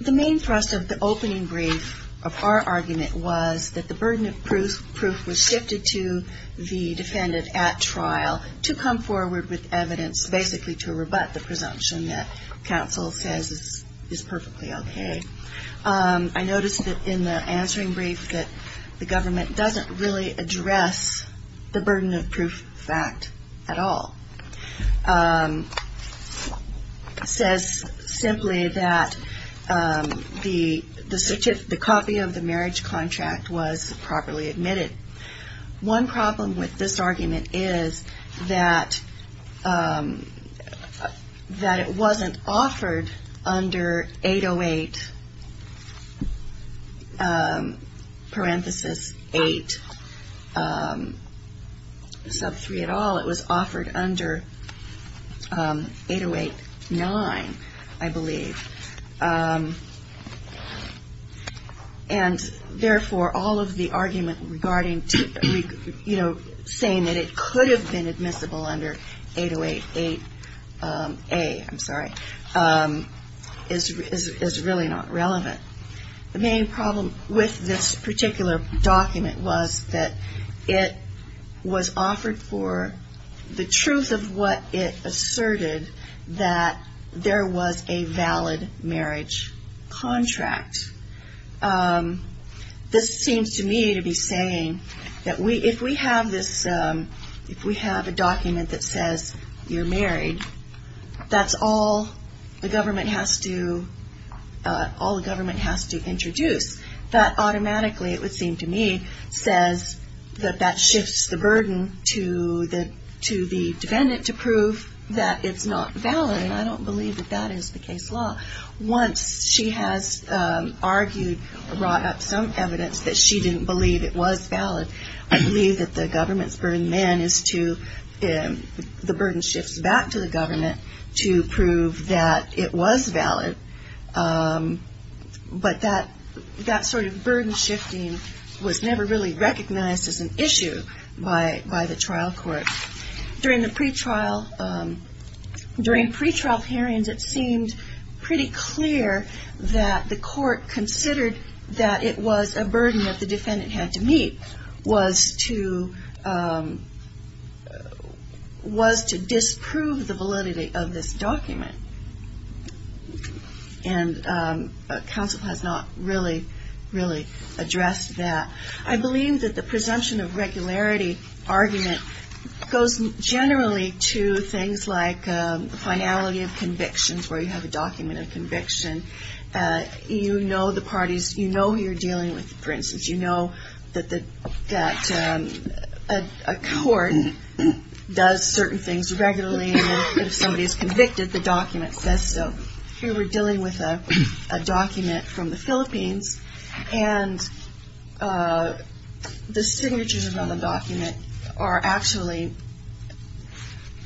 The main thrust of the opening brief of our argument was that the burden of proof was shifted to the defendant at trial to come forward with evidence basically to rebut the in the answering brief that the government doesn't really address the burden of proof fact at all. It says simply that the copy of the marriage contract was properly admitted. One problem with this argument is that it wasn't offered under 808, parenthesis 8, sub 3 at all. It was offered under 808-9, I believe. And therefore, all of the argument regarding, you know, saying that it could have been admissible under 808-8A, I'm sorry, is really not relevant. The main problem with this particular document was that it was offered for the truth of what it asserted that there was a valid marriage contract. This seems to me to be saying that if we have a document that says you're married, that's all the government has to introduce. That automatically, it would seem to me, says that that shifts the burden to the defendant to prove that it's not valid. And I don't believe that that is the case law. Once she has argued, brought up some evidence that she didn't believe it was valid. I believe that the government's burden then is to, the burden shifts back to the government to prove that it was valid. But that sort of burden shifting was never really recognized as an issue by the trial court. During the pretrial hearings, it seemed pretty clear that the court considered that it was a burden that the defendant had to meet, was to disprove the validity of this document. And counsel has not really, really addressed that. I believe that the presumption of regularity argument goes generally to things like finality of convictions, where you have a document of conviction. You know the parties, you know who you're dealing with. For instance, you know that a court does certain things regularly and if somebody is convicted, the document says so. Here we're dealing with a document from the Philippines and the signatures on the document are actually,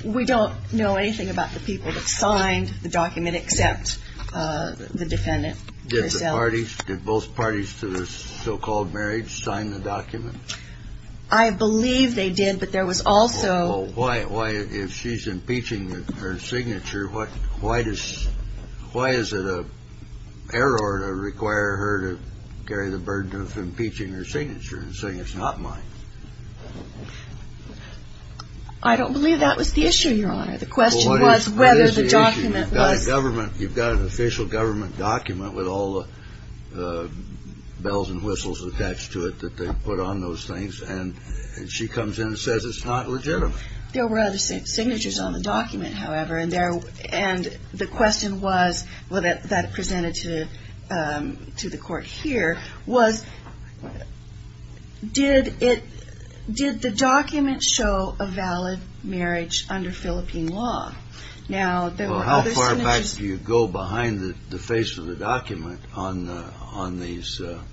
we don't know anything about the people that signed the document except the defendant. Did both parties to the so-called marriage sign the document? I believe they did, but there was also. If she's impeaching her signature, why is it a error to require her to carry the burden of impeaching her signature and saying it's not mine? I don't believe that was the issue, Your Honor. The question was whether the document was. You've got an official government document with all the bells and whistles attached to it that they put on those things, and she comes in and says it's not legitimate. There were other signatures on the document, however, and the question was, that presented to the court here, was did the document show a valid marriage under Philippine law? How far back do you go behind the face of the document on the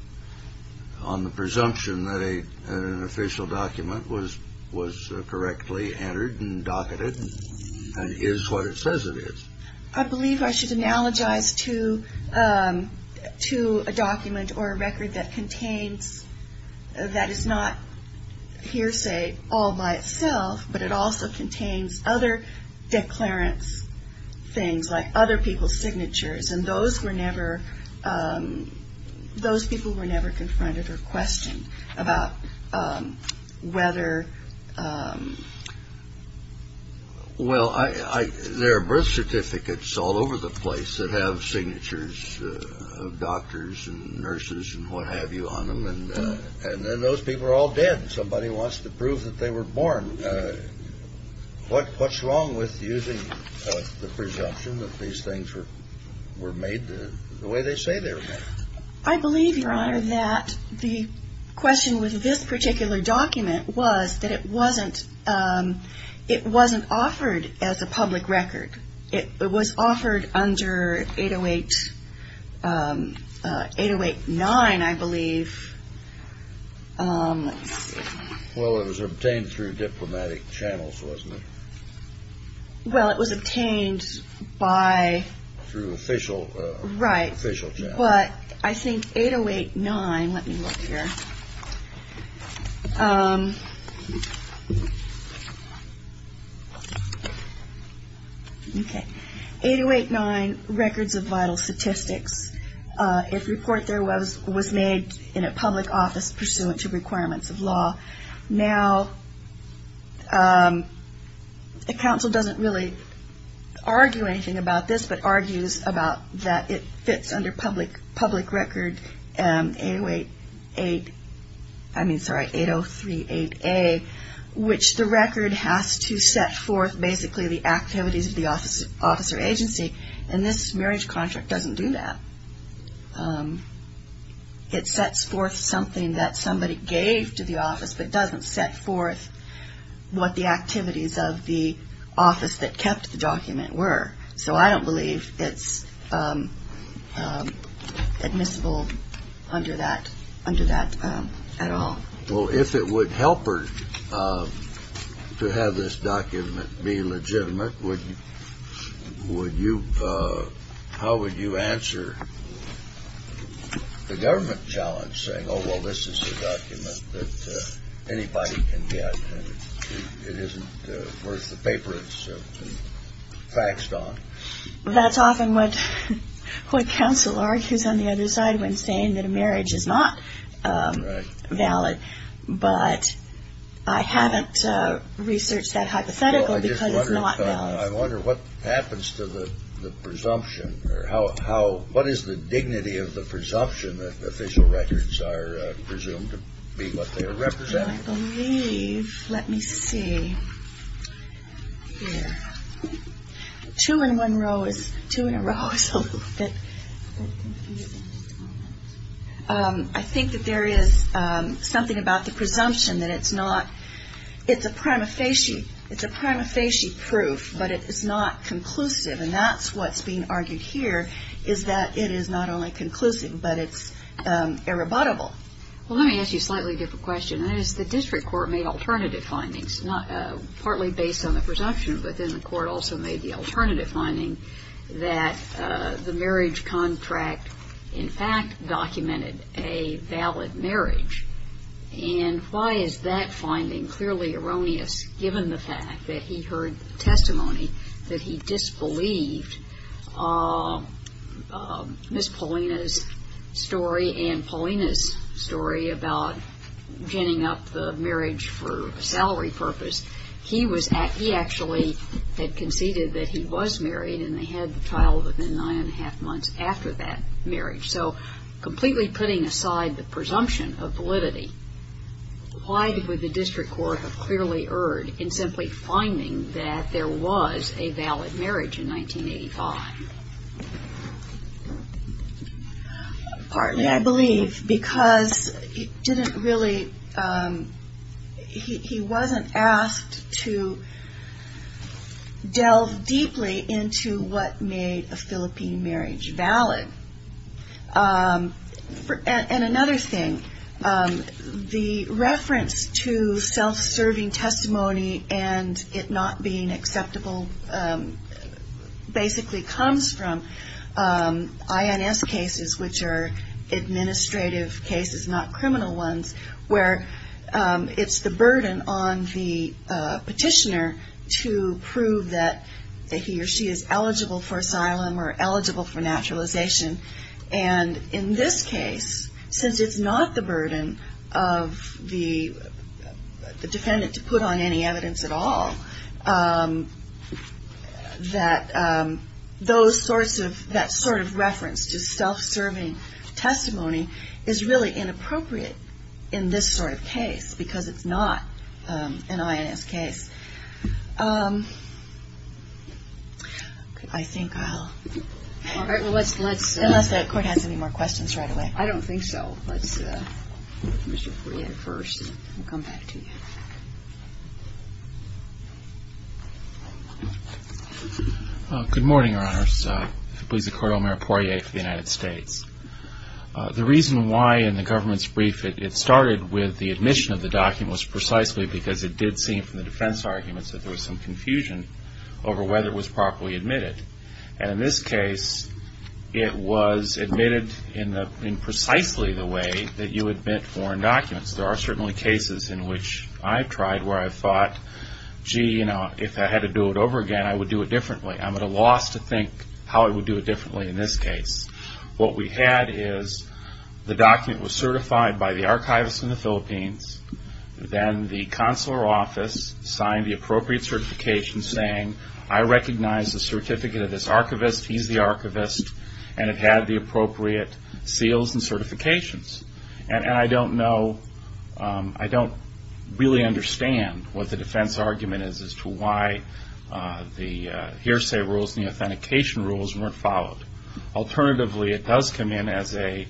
presumption that an official document was correctly entered and docketed and is what it says it is? I believe I should analogize to a document or a record that contains, that is not hearsay all by itself, but it also contains other declarants, things like other people's signatures, and those were never, those people were never confronted or questioned about whether. Well, there are birth certificates all over the place that have signatures of doctors and nurses and what have you on them, and then those people are all dead. Somebody wants to prove that they were born. What's wrong with using the presumption that these things were made the way they say they were made? I believe, Your Honor, that the question with this particular document was that it wasn't offered as a public record. It was offered under 808-9, I believe. Well, it was obtained through diplomatic channels, wasn't it? Well, it was obtained by... Through official channels. Right. Official channels. But I think 808-9, let me look here. Okay. 808-9, records of vital statistics, if report there was made in a public office pursuant to requirements of law. Now, the counsel doesn't really argue anything about this, but argues about that it fits under public record 803-8A, which the record has to set forth basically the activities of the office or agency, and this marriage contract doesn't do that. It sets forth something that somebody gave to the office, but doesn't set forth what the activities of the office that kept the document were. So I don't believe it's admissible under that at all. Well, if it would help her to have this document be legitimate, how would you answer the government challenge, saying, oh, well, this is a document that anybody can get and it isn't worth the paper it's faxed on? That's often what counsel argues on the other side when saying that a marriage is not valid, but I haven't researched that hypothetical because it's not valid. I wonder what happens to the presumption or what is the dignity of the presumption that official records are presumed to be what they are representative of? I believe, let me see. Two in a row is a little bit confusing. I think that there is something about the presumption that it's a prima facie proof, but it is not conclusive, and that's what's being argued here is that it is not only conclusive, but it's irrebuttable. Well, let me ask you a slightly different question. That is, the district court made alternative findings, partly based on the presumption, but then the court also made the alternative finding that the marriage contract in fact documented a valid marriage. And why is that finding clearly erroneous, given the fact that he heard testimony that he disbelieved Ms. Paulina's story and Paulina's story about ginning up the marriage for a salary purpose? He actually had conceded that he was married and they had the child within nine and a half months after that marriage. So completely putting aside the presumption of validity, why would the district court have clearly erred in simply finding that there was a valid marriage in 1985? Partly, I believe, because he didn't really, he wasn't asked to delve deeply into what made a Philippine marriage valid. And another thing, the reference to self-serving testimony and it not being acceptable basically comes from INS cases, which are administrative cases, not criminal ones, where it's the burden on the petitioner to prove that he or she is eligible for asylum or eligible for naturalization. And in this case, since it's not the burden of the defendant to put on any evidence at all, that those sorts of, that sort of reference to self-serving testimony is really inappropriate in this sort of case, because it's not an INS case. I think I'll, unless the court has any more questions right away. I don't think so. Let's, Mr. Poirier first, and then we'll come back to you. Good morning, Your Honors. I'm Elisa Cordell, Mayor Poirier for the United States. The reason why in the government's brief it started with the admission of the document was precisely because it did seem from the defense arguments that there was some confusion over whether it was properly admitted. And in this case, it was admitted in precisely the way that you admit foreign documents. There are certainly cases in which I've tried where I've thought, gee, you know, if I had to do it over again, I would do it differently. I'm at a loss to think how I would do it differently in this case. What we had is the document was certified by the archivist in the Philippines, then the consular office signed the appropriate certification saying, I recognize the certificate of this archivist, he's the archivist, and it had the appropriate seals and certifications. And I don't know, I don't really understand what the defense argument is as to why the hearsay rules and the authentication rules weren't followed. Alternatively, it does come in as a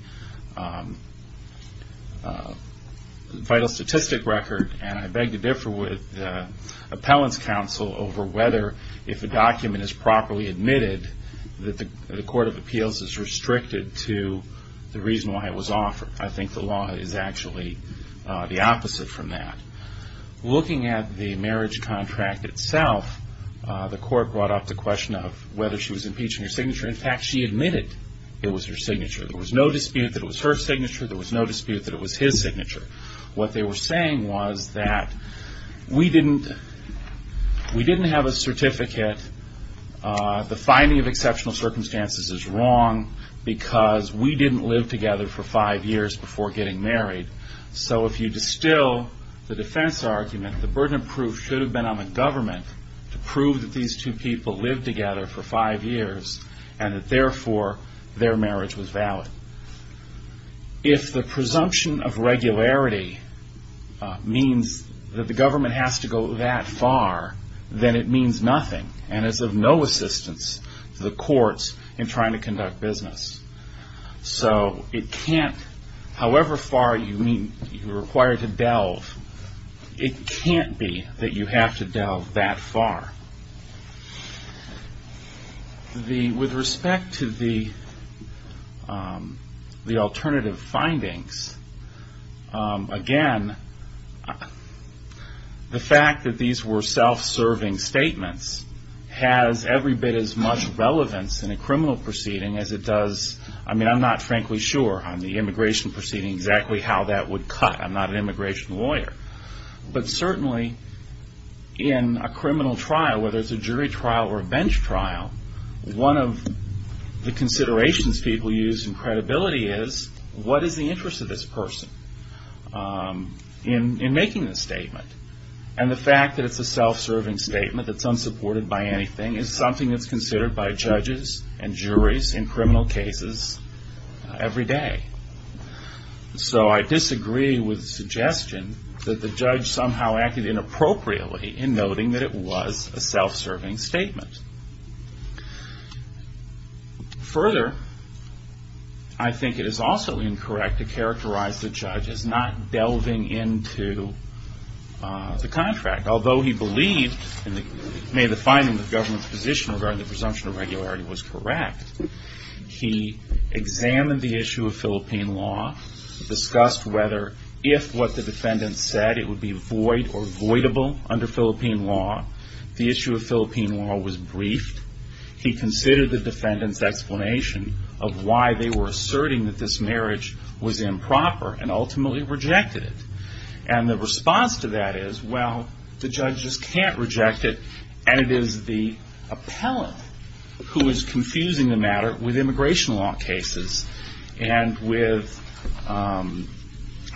vital statistic record, and I beg to differ with the appellant's counsel over whether if a document is properly admitted, that the court of appeals is restricted to the reason why it was offered. I think the law is actually the opposite from that. Looking at the marriage contract itself, the court brought up the question of whether she was impeached on her signature. In fact, she admitted it was her signature. There was no dispute that it was her signature. There was no dispute that it was his signature. What they were saying was that we didn't have a certificate. The finding of exceptional circumstances is wrong because we didn't live together for five years before getting married. So if you distill the defense argument, the burden of proof should have been on the government to prove that these two people lived together for five years and that therefore their marriage was valid. If the presumption of regularity means that the government has to go that far, then it means nothing and is of no assistance to the courts in trying to conduct business. So it can't, however far you require to delve, it can't be that you have to delve that far. With respect to the alternative findings, again, the fact that these were self-serving statements has every bit as much relevance in a criminal proceeding as it does, I mean I'm not frankly sure on the immigration proceeding exactly how that would cut. I'm not an immigration lawyer. But certainly in a criminal trial, whether it's a jury trial or a bench trial, one of the considerations people use in credibility is what is the interest of this person in making this statement? And the fact that it's a self-serving statement that's unsupported by anything is something that's considered by judges and juries in criminal cases every day. So I disagree with the suggestion that the judge somehow acted inappropriately in noting that it was a self-serving statement. Further, I think it is also incorrect to characterize the judge as not delving into the contract. Although he believed, and made the finding that the government's position regarding the presumption of regularity was correct, he examined the issue of Philippine law, discussed whether if what the defendant said it would be void or voidable under Philippine law. The issue of Philippine law was briefed. He considered the defendant's explanation of why they were asserting that this marriage was improper and ultimately rejected it. And the response to that is, well, the judge just can't reject it, and it is the appellant who is confusing the matter with immigration law cases and with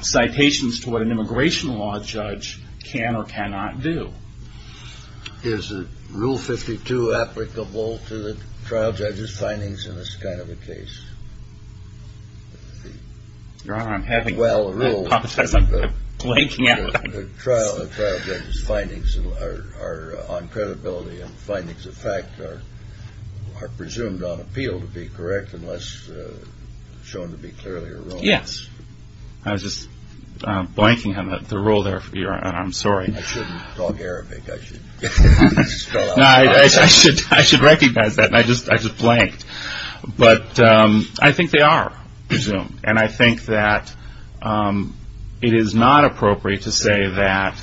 citations to what an immigration law judge can or cannot do. Is Rule 52 applicable to the trial judge's findings in this kind of a case? Your Honor, I'm having... Well, the rule... I apologize, I'm blanking out. The trial judge's findings on credibility and findings of fact are presumed on appeal to be correct unless shown to be clearly erroneous. Yes. I was just blanking on the rule there, and I'm sorry. I shouldn't talk Arabic. No, I should recognize that, and I just blanked. But I think they are presumed, and I think that it is not appropriate to say that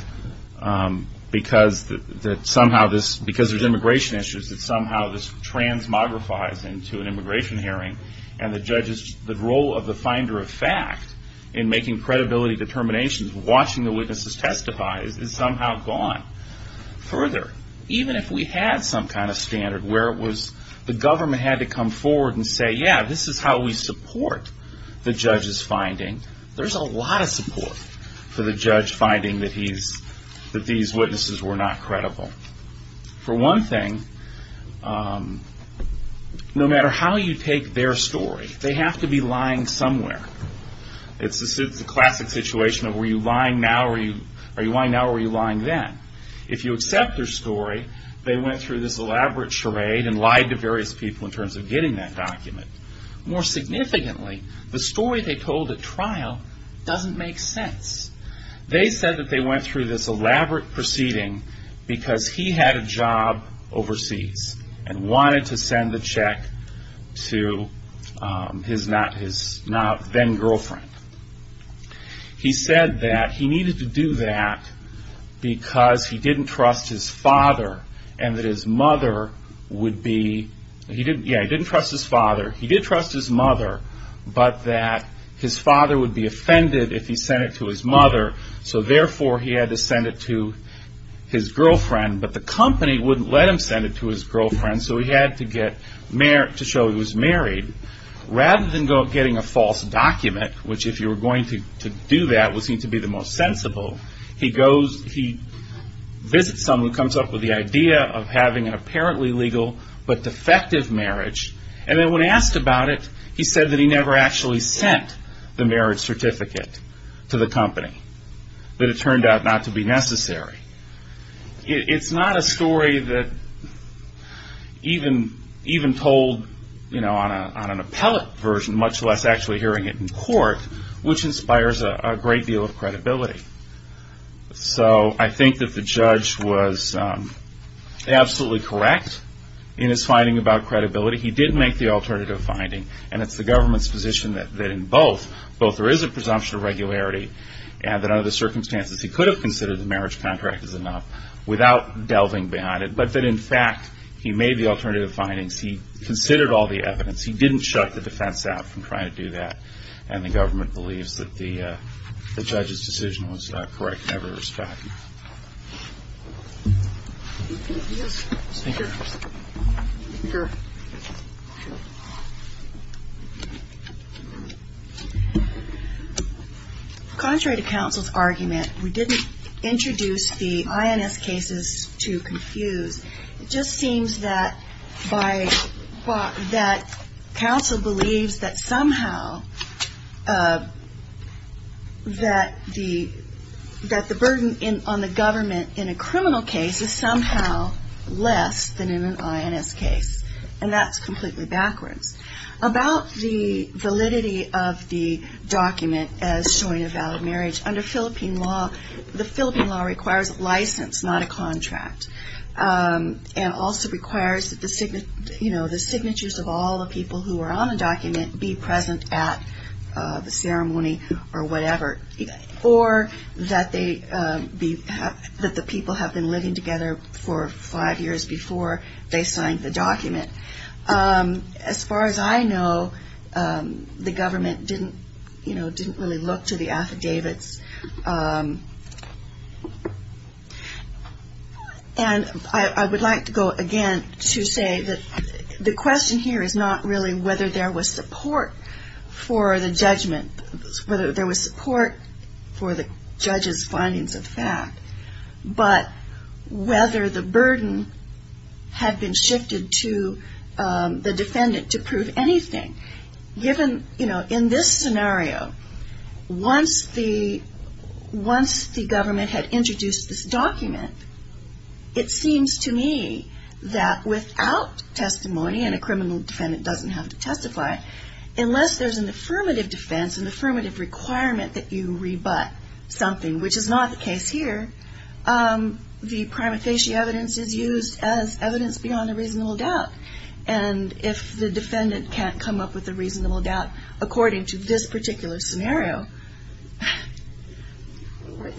because there's immigration issues that somehow this transmogrifies into an immigration hearing, and the role of the finder of fact in making credibility determinations, watching the witnesses testify, is somehow gone further. Even if we had some kind of standard where it was the government had to come forward and say, yeah, this is how we support the judge's finding, there's a lot of support for the judge finding that these witnesses were not credible. For one thing, no matter how you take their story, they have to be lying somewhere. It's the classic situation of are you lying now or are you lying then? If you accept their story, they went through this elaborate charade and lied to various people in terms of getting that document. More significantly, the story they told at trial doesn't make sense. They said that they went through this elaborate proceeding because he had a job overseas and wanted to send the check to his then girlfriend. He said that he needed to do that because he didn't trust his father and that his mother would be, yeah, he didn't trust his father. He did trust his mother, but that his father would be offended if he sent it to his mother, so therefore he had to send it to his girlfriend, but the company wouldn't let him send it to his girlfriend, so he had to show he was married. Rather than getting a false document, which if you were going to do that would seem to be the most sensible, he visits someone, comes up with the idea of having an apparently legal but defective marriage, and then when asked about it, he said that he never actually sent the marriage certificate to the company, that it turned out not to be necessary. It's not a story that even told on an appellate version, much less actually hearing it in court, which inspires a great deal of credibility. So I think that the judge was absolutely correct in his finding about credibility. He did make the alternative finding, and it's the government's position that in both, there is a presumption of regularity, and that under the circumstances, he could have considered the marriage contract as enough without delving behind it, but that in fact he made the alternative findings. He considered all the evidence. He didn't shut the defense out from trying to do that, and the government believes that the judge's decision was correct and out of respect. Thank you. Yes. Thank you. Thank you. Contrary to counsel's argument, we didn't introduce the INS cases to confuse. It just seems that counsel believes that somehow that the burden on the government in a criminal case is somehow less than in an INS case, and that's completely backwards. About the validity of the document as showing a valid marriage, under Philippine law, the Philippine law requires a license, not a contract, and also requires that the signatures of all the people who are on the document be present at the ceremony or whatever, or that the people have been living together for five years before they signed the document. As far as I know, the government didn't really look to the affidavits. And I would like to go again to say that the question here is not really whether there was support for the judgment, whether there was support for the judge's findings of the fact, but whether the burden had been shifted to the defendant to prove anything. Given, you know, in this scenario, once the government had introduced this document, it seems to me that without testimony, and a criminal defendant doesn't have to testify, unless there's an affirmative defense, an affirmative requirement that you rebut something, which is not the case here. The prima facie evidence is used as evidence beyond a reasonable doubt, and if the defendant can't come up with a reasonable doubt according to this particular scenario.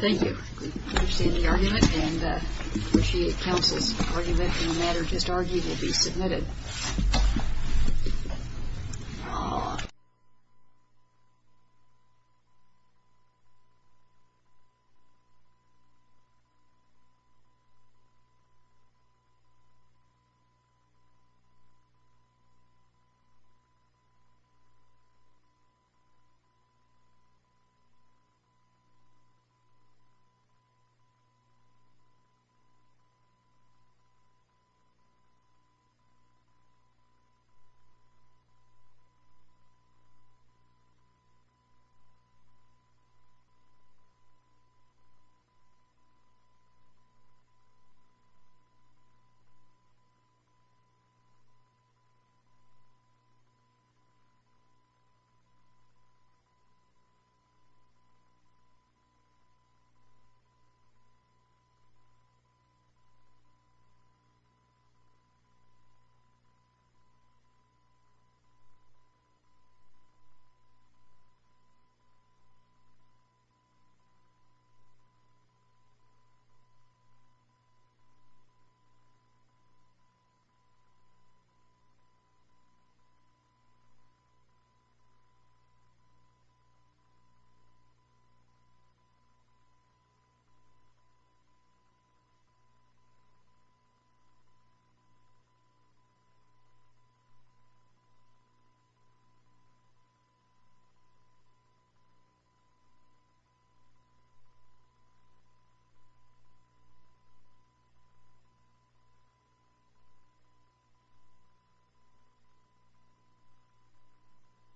Thank you. Thank you. Thank you. Thank you. Thank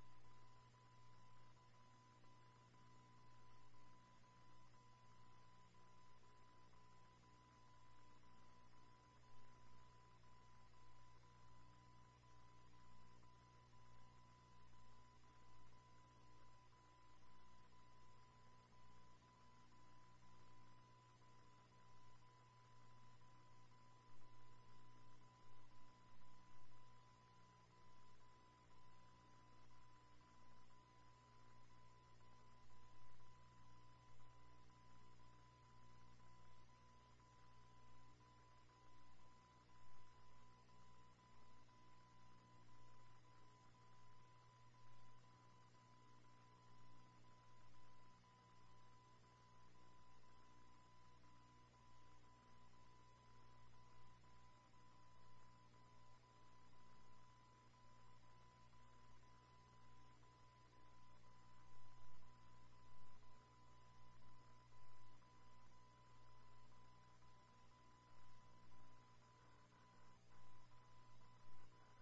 you. Thank you.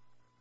Thank you.